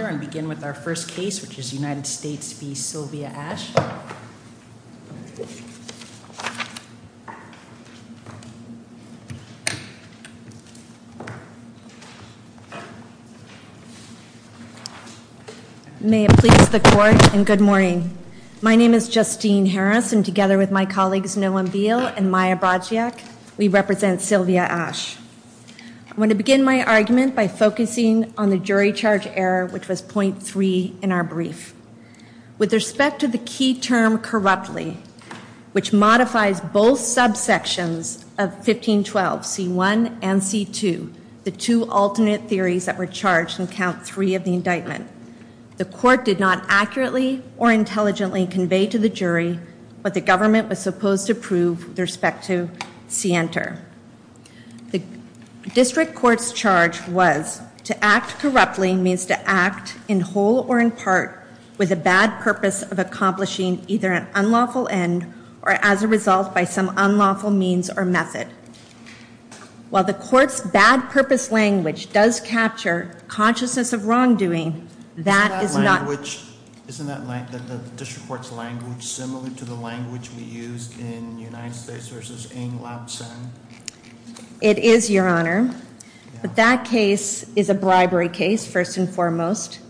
May it please the court, and good morning. My name is Justine Harris, and together with my colleagues Noam Beale and Maya Brodchiak, we represent Sylvia Ash. I'm going to begin my argument by focusing on the jury charge error, which was point three in our brief. With respect to the key term corruptly, which modifies both subsections of 1512 C1 and C2, the two alternate theories that were charged in count three of the indictment, the court did not accurately or intelligently convey to the jury what the government was supposed to prove with respect to C enter. The district court's charge was to act corruptly means to act in whole or in part with a bad purpose of accomplishing either an unlawful end or as a result by some unlawful means or method. While the court's bad purpose language does capture consciousness of wrongdoing, that is not- Isn't that language, isn't that the district court's language similar to the language we use in United States v. Ng-Lap-Sen? It is, Your Honor. But that case is a bribery case, first and foremost.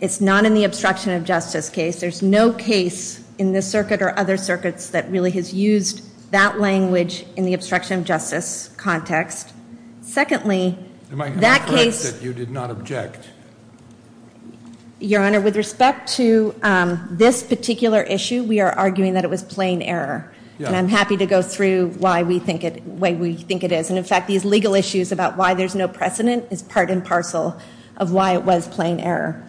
It's not in the obstruction of justice case. There's no case in this circuit or other circuits that really has used that language in the obstruction of justice context. Secondly, that case- Am I correct that you did not object? Your Honor, with respect to this particular issue, we are arguing that it was plain error. Yeah. I'm happy to go through why we think it- why we think it is. And in fact, these legal issues about why there's no precedent is part and parcel of why it was plain error.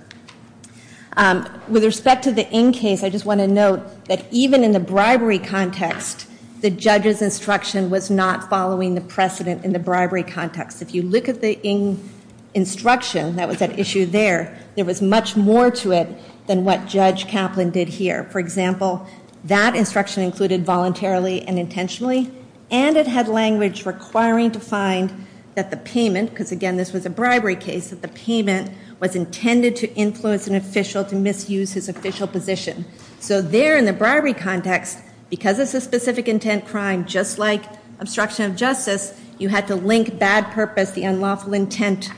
With respect to the Ng case, I just want to note that even in the bribery context, the judge's instruction was not following the precedent in the bribery context. If you look at the Ng instruction that was at issue there, there was much more to it than what Judge Kaplan did here. For example, that instruction included voluntarily and intentionally, and it had language requiring to find that the payment, because again, this was a bribery case, that the payment was intended to influence an official to misuse his official position. So there in the bribery context, because it's a specific intent crime, just like obstruction of justice, you had to link bad purpose, the unlawful intent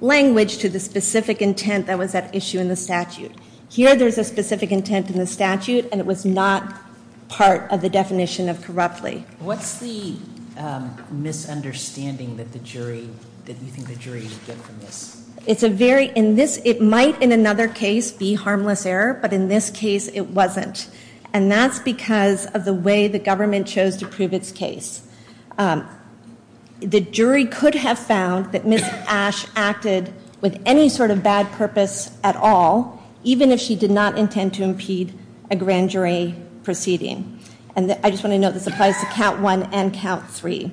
language to the specific intent that was at issue in the statute. Here, there's a specific intent in the statute, and it was not part of the definition of corruptly. What's the misunderstanding that the jury- that you think the jury would get from this? It's a very- in this- it might in another case be harmless error, but in this case, it wasn't. And that's because of the way the government chose to prove its case. The jury could have found that Ms. Ash acted with any sort of bad purpose at all, even if she did not intend to impede a grand jury proceeding. And I just want to note this applies to count one and count three.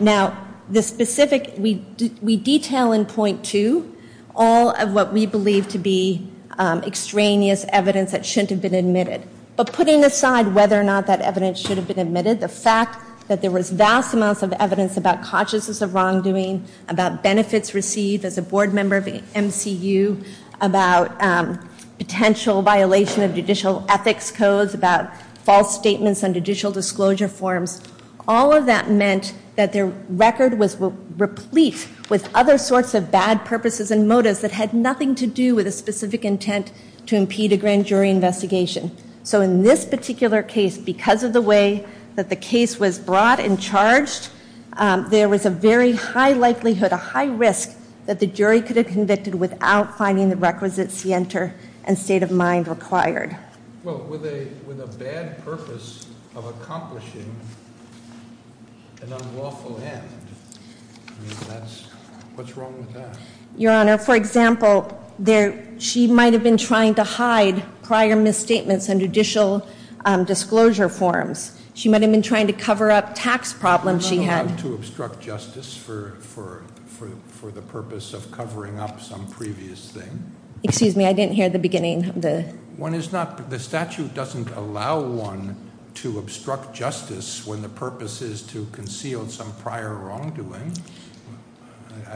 Now, the specific- we detail in point two all of what we believe to be extraneous evidence that shouldn't have been admitted. But putting aside whether or not that evidence should have been admitted, the fact that there was vast amounts of evidence about consciousness of wrongdoing, about benefits received as a board member of MCU, about potential violation of judicial ethics codes, about false statements on judicial disclosure forms, all of that meant that their record was replete with other sorts of bad purposes and motives that had nothing to do with a specific intent to impede a grand jury investigation. So in this particular case, because of the way that the case was brought and charged, there was a very high likelihood, a high risk that the jury could have convicted without finding the requisite scienter and state of mind required. Well, with a bad purpose of accomplishing an unlawful end, that's- what's wrong with that? Your Honor, for example, she might have been trying to hide prior misstatements on judicial disclosure forms. She might have been trying to cover up tax problems she had. I'm not allowed to obstruct justice for the purpose of covering up some previous thing. Excuse me, I didn't hear the beginning of the- One is not- the statute doesn't allow one to obstruct justice when the purpose is to conceal some prior wrongdoing.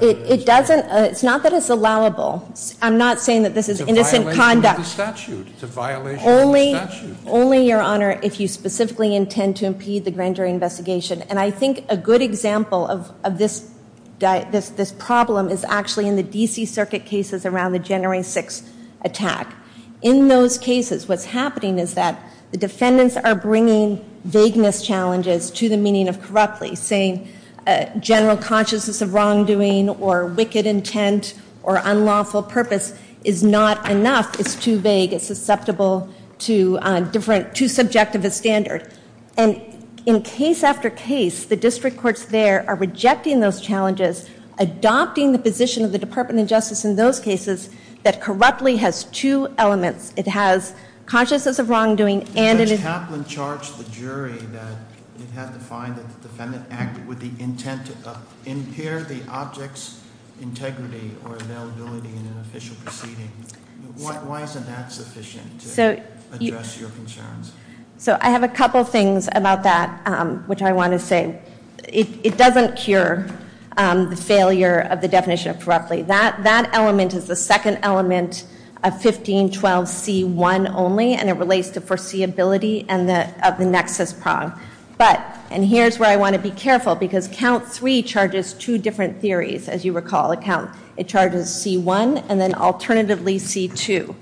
It doesn't- it's not that it's allowable. I'm not saying that this is innocent conduct. It's a violation of the statute. It's a violation of the statute. Only, Your Honor, if you specifically intend to impede the grand jury investigation. And I think a good example of this problem is actually in the D.C. Circuit cases around the January 6th attack. In those cases, what's happening is that the defendants are bringing vagueness challenges to the meaning of corruptly, saying general consciousness of wrongdoing or wicked intent or unlawful purpose is not enough. It's too vague. It's susceptible to different- too subjective a standard. And in case after case, the district courts there are rejecting those challenges, adopting the position of the Department of Justice in those cases that corruptly has two elements. It has consciousness of wrongdoing and- If Kaplan charged the jury that it had to find that the defendant acted with the intent to impair the object's integrity or availability in an official proceeding, why isn't that sufficient to address your concerns? So I have a couple things about that which I want to say. It doesn't cure the failure of the definition of corruptly. That element is the second element of 1512C1 only, and it relates to foreseeability of the nexus prong. But- and here's where I want to be careful, because Count III charges two different theories, as you recall. It charges C1 and then alternatively C2.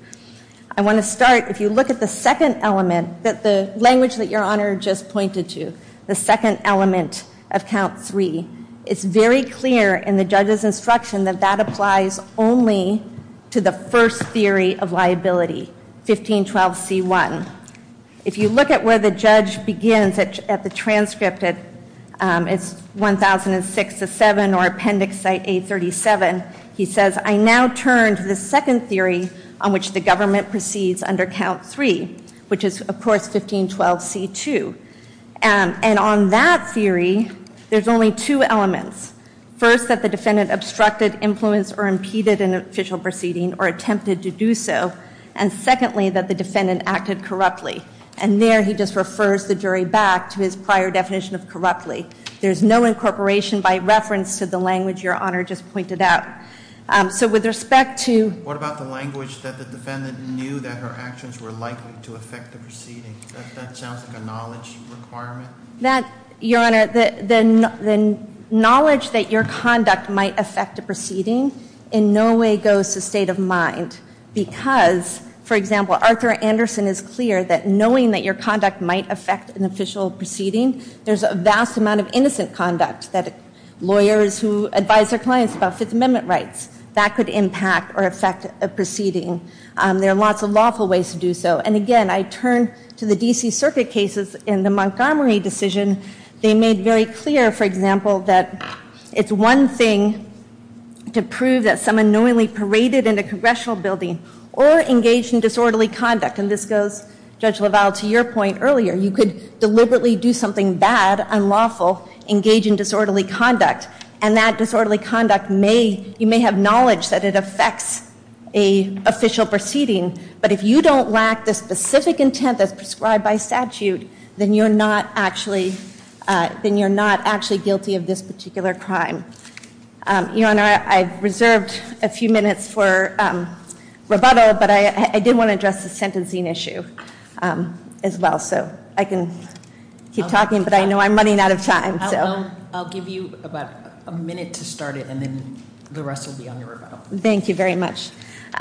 I want to start- if you look at the second element, the language that Your Honor just pointed to, the second element of Count III, it's very clear in the judge's instruction that that applies only to the first theory of liability, 1512C1. If you look at where the judge begins at the transcript, it's 1006-7 or Appendix A-37, he says, I now turn to the second theory on which the government proceeds under Count III, which is, of course, 1512C2. And on that theory, there's only two elements. First, that the defendant obstructed, influenced, or impeded an official proceeding or attempted to do so. And secondly, that the defendant acted corruptly. And there he just refers the jury back to his prior definition of corruptly. There's no incorporation by reference to the language Your Honor just pointed out. So with respect to- That sounds like a knowledge requirement. That, Your Honor, the knowledge that your conduct might affect a proceeding in no way goes to state of mind. Because, for example, Arthur Anderson is clear that knowing that your conduct might affect an official proceeding, there's a vast amount of innocent conduct that lawyers who advise their clients about Fifth Amendment rights, that could impact or affect a proceeding. There are lots of lawful ways to do so. And again, I turn to the D.C. Circuit cases in the Montgomery decision. They made very clear, for example, that it's one thing to prove that someone knowingly paraded in a congressional building or engaged in disorderly conduct. And this goes, Judge LaValle, to your point earlier. You could deliberately do something bad, unlawful, engage in disorderly conduct. And that disorderly conduct may, you may have knowledge that it affects a official proceeding. But if you don't lack the specific intent that's prescribed by statute, then you're not actually guilty of this particular crime. Your Honor, I've reserved a few minutes for rebuttal, but I did want to address the sentencing issue as well. So I can keep talking, but I know I'm running out of time. So- I'll give you about a minute to start it, and then the rest will be on your rebuttal. Thank you very much. Your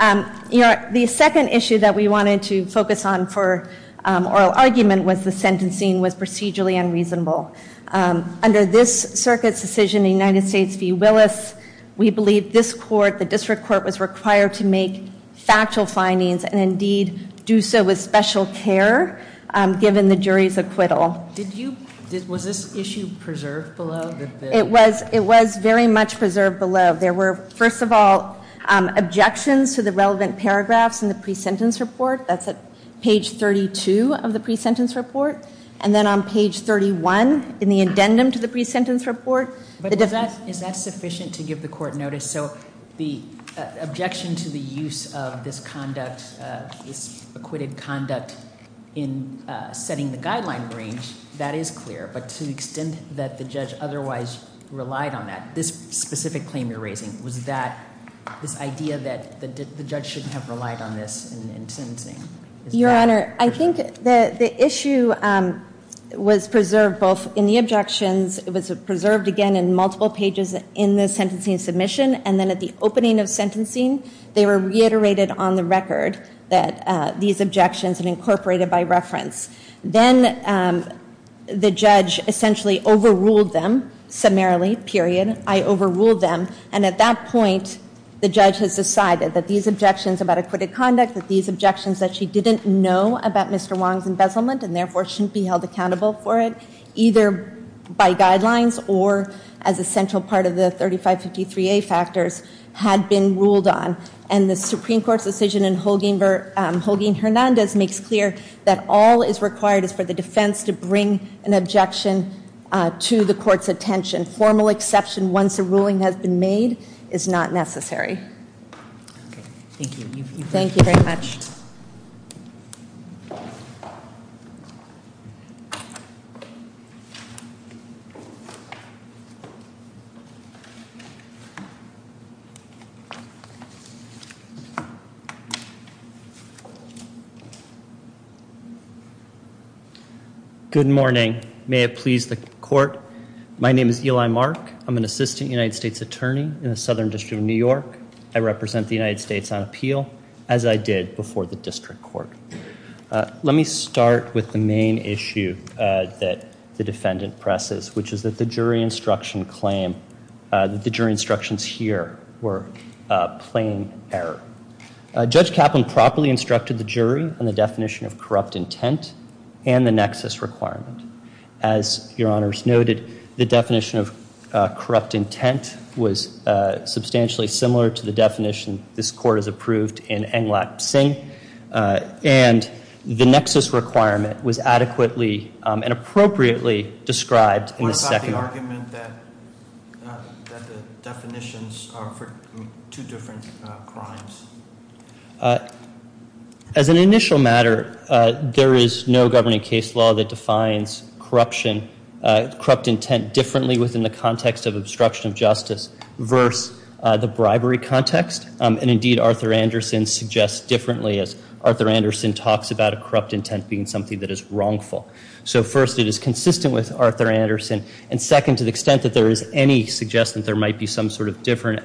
Honor, the second issue that we wanted to focus on for oral argument was the sentencing was procedurally unreasonable. Under this circuit's decision, the United States v. Willis, we believe this court, the district court, was required to make factual findings and indeed do so with special care, given the jury's acquittal. Did you, was this issue preserved below? It was very much preserved below. There were, first of all, objections to the relevant paragraphs in the pre-sentence report. That's at page 32 of the pre-sentence report. And then on page 31, in the addendum to the pre-sentence report- But is that sufficient to give the court notice? So the objection to the use of this conduct, this acquitted conduct, in setting the guideline range, that is clear. But to the extent that the judge otherwise relied on that, this specific claim you're raising, was that this idea that the judge shouldn't have relied on this in sentencing? Your Honor, I think the issue was preserved both in the objections, it was preserved again in multiple pages in the sentencing submission, and then at the opening of sentencing, they were reiterated on the record that these objections had incorporated by reference. Then the judge essentially overruled them, summarily, period. I overruled them. And at that point, the judge has decided that these objections about acquitted conduct, that these objections that she didn't know about Mr. Wong's embezzlement, and therefore shouldn't be held accountable for it, either by guidelines, or as a central part of the 3553A factors, had been ruled on. And the Supreme Court's decision in Hogan-Hernandez makes clear that all is required is for the defense to bring an objection to the court's attention. Formal exception, once a ruling has been made, is not necessary. Thank you. Thank you very much. Thank you. Good morning. May it please the court, my name is Eli Mark. I'm an assistant United States attorney in the Southern District of New York. I represent the United States on appeal, as I did before the district court. Let me start with the main issue that the defendant presses, which is that the jury instruction claim, that the jury instructions here were plain error. Judge Kaplan properly instructed the jury on the definition of corrupt intent and the nexus requirement. As your honors noted, the definition of corrupt intent was substantially similar to the definition this court has approved in Englach-Singh. And the nexus requirement was adequately and appropriately described in the second. What about the argument that the definitions are for two different crimes? As an initial matter, there is no governing case law that defines corruption, corrupt intent, differently within the context of obstruction of justice versus the bribery context. And indeed, Arthur Anderson suggests differently, as Arthur Anderson talks about a corrupt intent being something that is wrongful. So first, it is consistent with Arthur Anderson. And second, to the extent that there is any suggestion that there might be some sort of different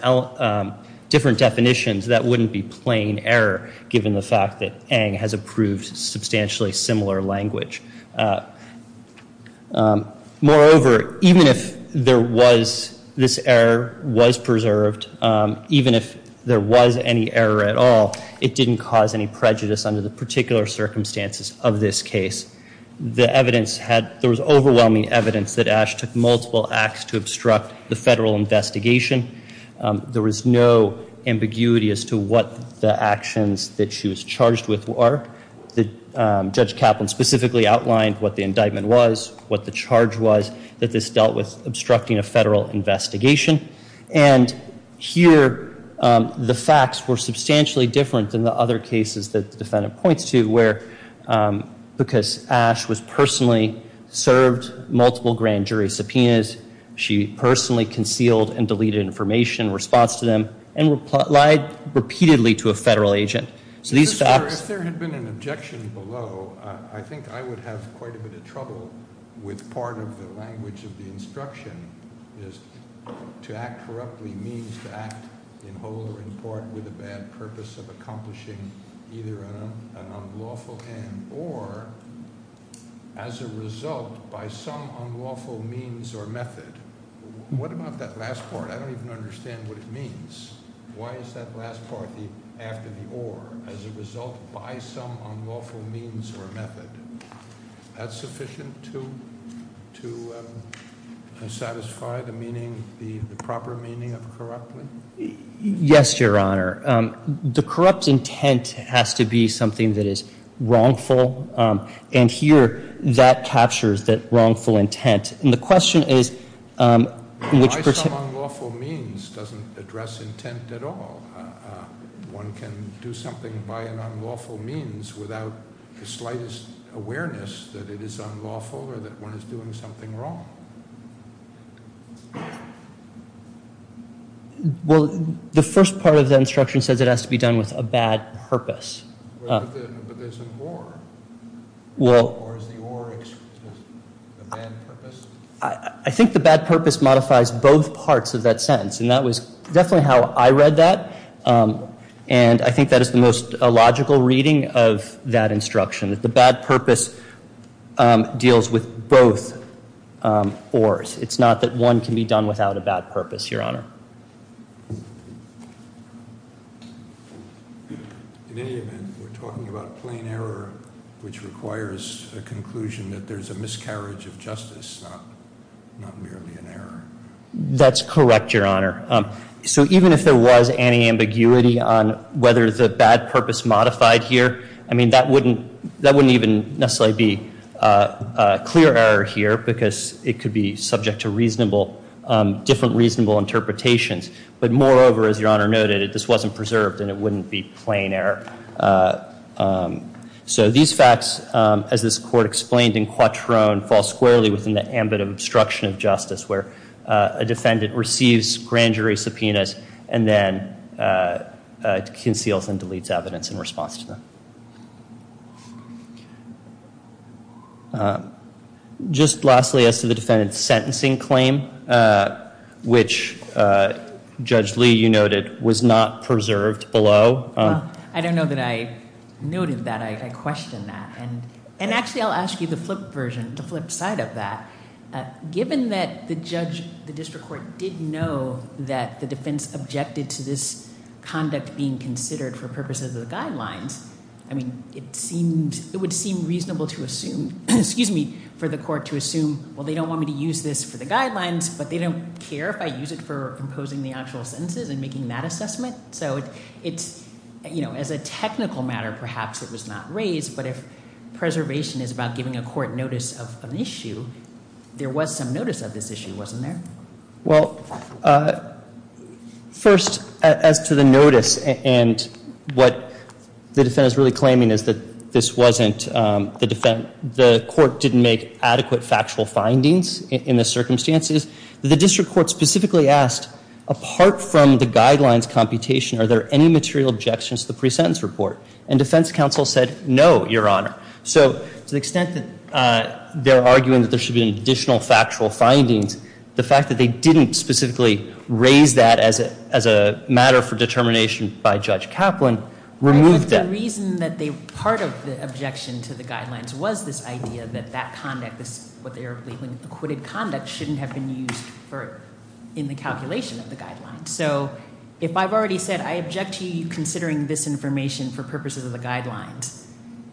definitions, that wouldn't be plain error, given the fact that Eng has approved substantially similar language. Moreover, even if there was, this error was preserved, even if there was any error at all, it didn't cause any prejudice under the particular circumstances of this case. The evidence had, there was overwhelming evidence that Ash took multiple acts to obstruct the federal investigation. There was no ambiguity as to what the actions that she was charged with were. Judge Kaplan specifically outlined what the indictment was, what the charge was, that this dealt with obstructing a federal investigation. And here, the facts were substantially different than the other cases that the defendant points to, where because Ash was personally served multiple grand jury subpoenas, she personally concealed and deleted information in response to them and lied repeatedly to a federal agent. So these facts- If there had been an objection below, I think I would have quite a bit of trouble with part of the language of the instruction, is to act corruptly means to act in whole or in part with a bad purpose of accomplishing either an unlawful end or as a result, by some unlawful means or method. What about that last part? I don't even understand what it means. Why is that last part after the or as a result by some unlawful means or method? That's sufficient to satisfy the proper meaning of corruptly? Yes, Your Honor. The corrupt intent has to be something that is wrongful. And here, that captures that wrongful intent. And the question is- By some unlawful means doesn't address intent at all. One can do something by an unlawful means without the slightest awareness that it is unlawful or that one is doing something wrong. Well, the first part of the instruction says it has to be done with a bad purpose. But there's an or. Well- Or is the or a bad purpose? I think the bad purpose modifies both parts of that sentence, and that was definitely how I read that. And I think that is the most illogical reading of that instruction, that the bad purpose deals with both ors. It's not that one can be done without a bad purpose, Your Honor. In any event, we're talking about a plain error which requires a conclusion that there's a miscarriage of justice, not merely an error. That's correct, Your Honor. So even if there was anti-ambiguity on whether the bad purpose modified here, I mean, that wouldn't even necessarily be a clear error here because it could be subject to different reasonable interpretations. But moreover, as Your Honor noted, this wasn't preserved, and it wouldn't be plain error. So these facts, as this court explained in Quattrone, fall squarely within the ambit of obstruction of justice, where a defendant receives grand jury subpoenas and then conceals and deletes evidence in response to them. Just lastly, as to the defendant's sentencing claim, which Judge Lee, you noted, was not preserved below- I don't know that I noted that. I questioned that. And actually, I'll ask you the flip version, the flip side of that. Given that the judge, the district court, did know that the defense objected to this conduct being considered for purposes of the guidelines, I mean, it would seem reasonable for the court to assume, well, they don't want me to use this for the guidelines, but they don't care if I use it for imposing the actual sentences and making that assessment. So as a technical matter, perhaps it was not raised, but if preservation is about giving a court notice of an issue, there was some notice of this issue, wasn't there? Well, first, as to the notice and what the defendant is really claiming is that this wasn't- the court didn't make adequate factual findings in the circumstances. The district court specifically asked, apart from the guidelines computation, are there any material objections to the pre-sentence report? And defense counsel said, no, Your Honor. So to the extent that they're arguing that there should be additional factual findings, the fact that they didn't specifically raise that as a matter for determination by Judge Kaplan removed that. The reason that part of the objection to the guidelines was this idea that that conduct, what they are believing is acquitted conduct, shouldn't have been used in the calculation of the guidelines. So if I've already said, I object to you considering this information for purposes of the guidelines,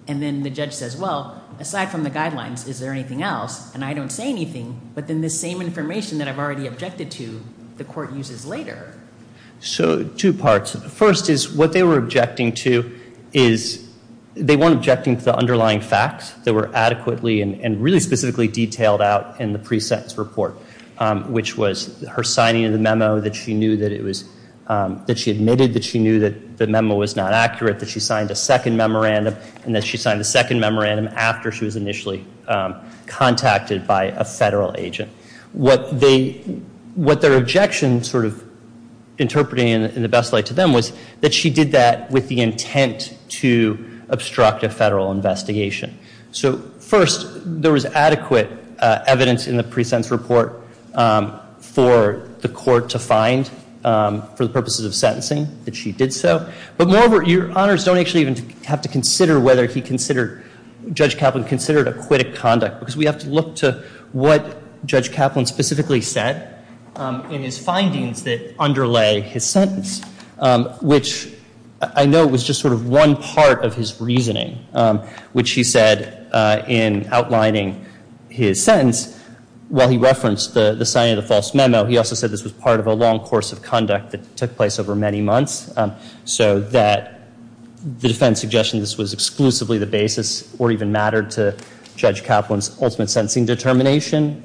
and then the judge says, well, aside from the guidelines, is there anything else? And I don't say anything, but then this same information that I've already objected to, the court uses later. So two parts. First is what they were objecting to is they weren't objecting to the underlying facts that were adequately and really specifically detailed out in the pre-sentence report, which was her signing of the memo that she knew that it was- that she admitted that she knew that the memo was not accurate, that she signed a second memorandum, and that she signed a second memorandum after she was initially contacted by a federal agent. What they- what their objection sort of interpreted in the best light to them was that she did that with the intent to obstruct a federal investigation. So first, there was adequate evidence in the pre-sentence report for the court to find, for the purposes of sentencing, that she did so. But moreover, your honors don't actually even have to consider whether he considered- what Judge Kaplan specifically said in his findings that underlay his sentence, which I know was just sort of one part of his reasoning, which he said in outlining his sentence. While he referenced the signing of the false memo, he also said this was part of a long course of conduct that took place over many months, so that the defense suggested this was exclusively the basis or even mattered to Judge Kaplan's ultimate sentencing determination.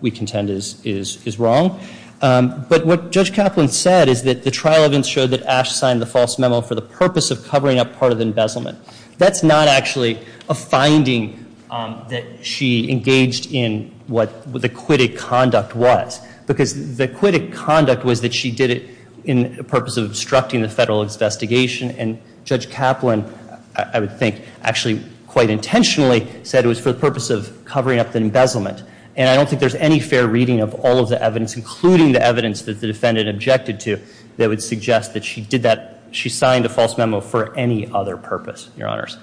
We contend is wrong. But what Judge Kaplan said is that the trial events showed that Ash signed the false memo for the purpose of covering up part of the embezzlement. That's not actually a finding that she engaged in what the acquitted conduct was, because the acquitted conduct was that she did it in the purpose of obstructing the federal investigation, and Judge Kaplan, I would think actually quite intentionally, said it was for the purpose of covering up the embezzlement. And I don't think there's any fair reading of all of the evidence, including the evidence that the defendant objected to, that would suggest that she did that. She signed a false memo for any other purpose, your honors.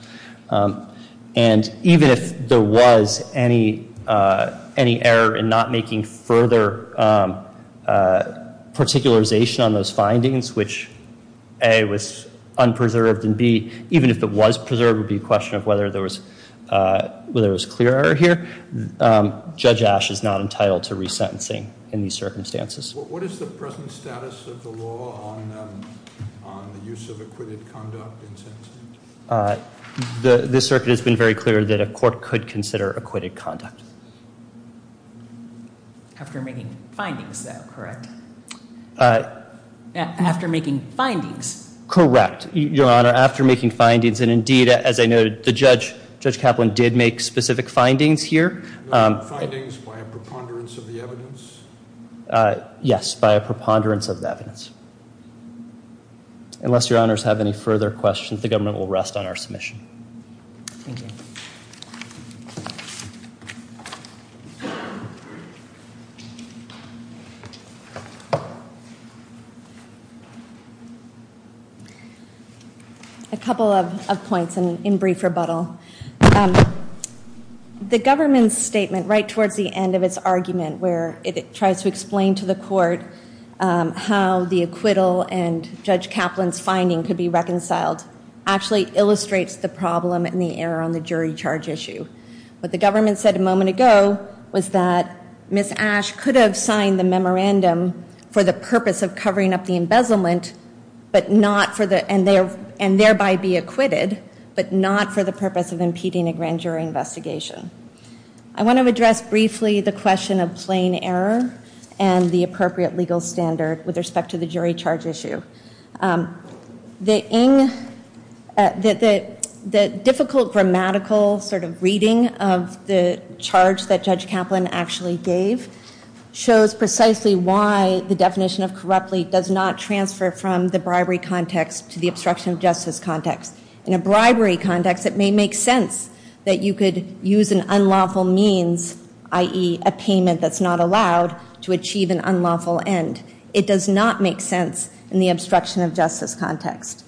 And even if there was any error in not making further particularization on those findings, which A, was unpreserved, and B, even if it was preserved, it would be a question of whether there was clear error here. Judge Ash is not entitled to resentencing in these circumstances. What is the present status of the law on the use of acquitted conduct in sentencing? This circuit has been very clear that a court could consider acquitted conduct. After making findings, though, correct? After making findings. Correct, your honor, after making findings, and indeed, as I noted, Judge Kaplan did make specific findings here. Findings by a preponderance of the evidence? Yes, by a preponderance of the evidence. Unless your honors have any further questions, the government will rest on our submission. Thank you. A couple of points in brief rebuttal. The government's statement right towards the end of its argument where it tries to explain to the court how the acquittal and Judge Kaplan's finding could be reconciled actually illustrates the problem and the error on the jury charge issue. What the government said a moment ago was that Ms. Ash could have signed the memorandum for the purpose of covering up the embezzlement and thereby be acquitted, but not for the purpose of impeding a grand jury investigation. I want to address briefly the question of plain error and the appropriate legal standard with respect to the jury charge issue. The difficult grammatical sort of reading of the charge that Judge Kaplan actually gave shows precisely why the definition of corruptly does not transfer from the bribery context to the obstruction of justice context. In a bribery context, it may make sense that you could use an unlawful means, i.e., a payment that's not allowed to achieve an unlawful end. It does not make sense in the obstruction of justice context.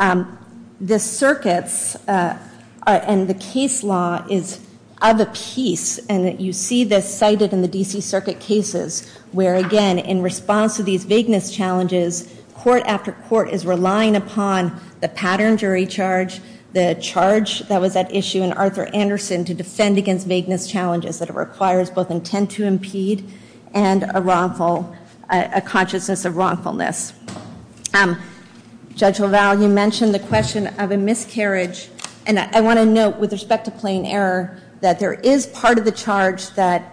The circuits and the case law is of a piece, and you see this cited in the D.C. Circuit cases where, again, in response to these vagueness challenges, court after court is relying upon the pattern jury charge, the charge that was at issue in Arthur Anderson to defend against vagueness challenges that it requires both intent to impede and a consciousness of wrongfulness. Judge LaValle, you mentioned the question of a miscarriage, and I want to note with respect to plain error that there is part of the charge that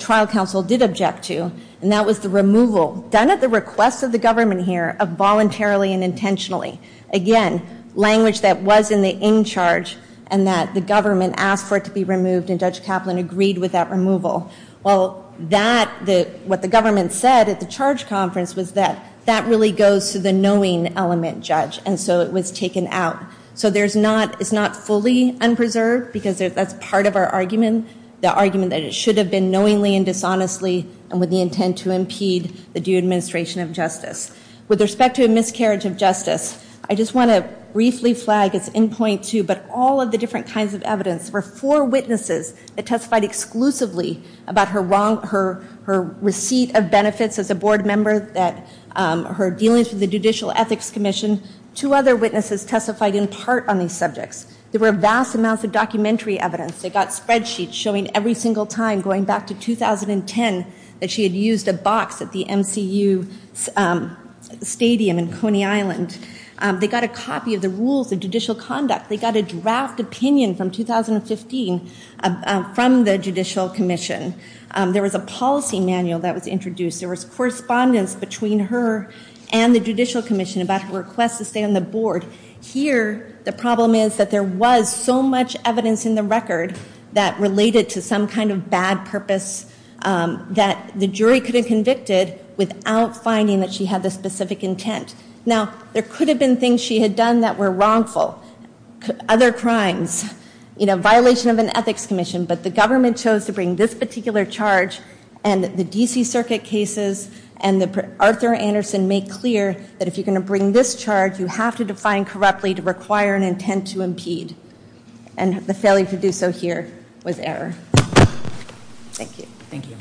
trial counsel did object to, and that was the removal, done at the request of the government here, of voluntarily and intentionally. Again, language that was in the in charge and that the government asked for it to be removed, and Judge Kaplan agreed with that removal. Well, what the government said at the charge conference was that that really goes to the knowing element, Judge, and so it was taken out. So it's not fully unpreserved because that's part of our argument, the argument that it should have been knowingly and dishonestly and with the intent to impede the due administration of justice. With respect to a miscarriage of justice, I just want to briefly flag its end point, too, but all of the different kinds of evidence were for witnesses that testified exclusively about her receipt of benefits as a board member, her dealings with the Judicial Ethics Commission. Two other witnesses testified in part on these subjects. There were vast amounts of documentary evidence. They got spreadsheets showing every single time going back to 2010 that she had used a box at the MCU stadium in Coney Island. They got a copy of the rules of judicial conduct. They got a draft opinion from 2015 from the Judicial Commission. There was a policy manual that was introduced. There was correspondence between her and the Judicial Commission about her request to stay on the board. Here, the problem is that there was so much evidence in the record that related to some kind of bad purpose that the jury could have convicted without finding that she had the specific intent. Now, there could have been things she had done that were wrongful, other crimes, you know, violation of an ethics commission, but the government chose to bring this particular charge and the D.C. Circuit cases and Arthur Anderson made clear that if you're going to bring this charge, you have to define correctly to require an intent to impede, and the failure to do so here was error. Thank you. Thank you.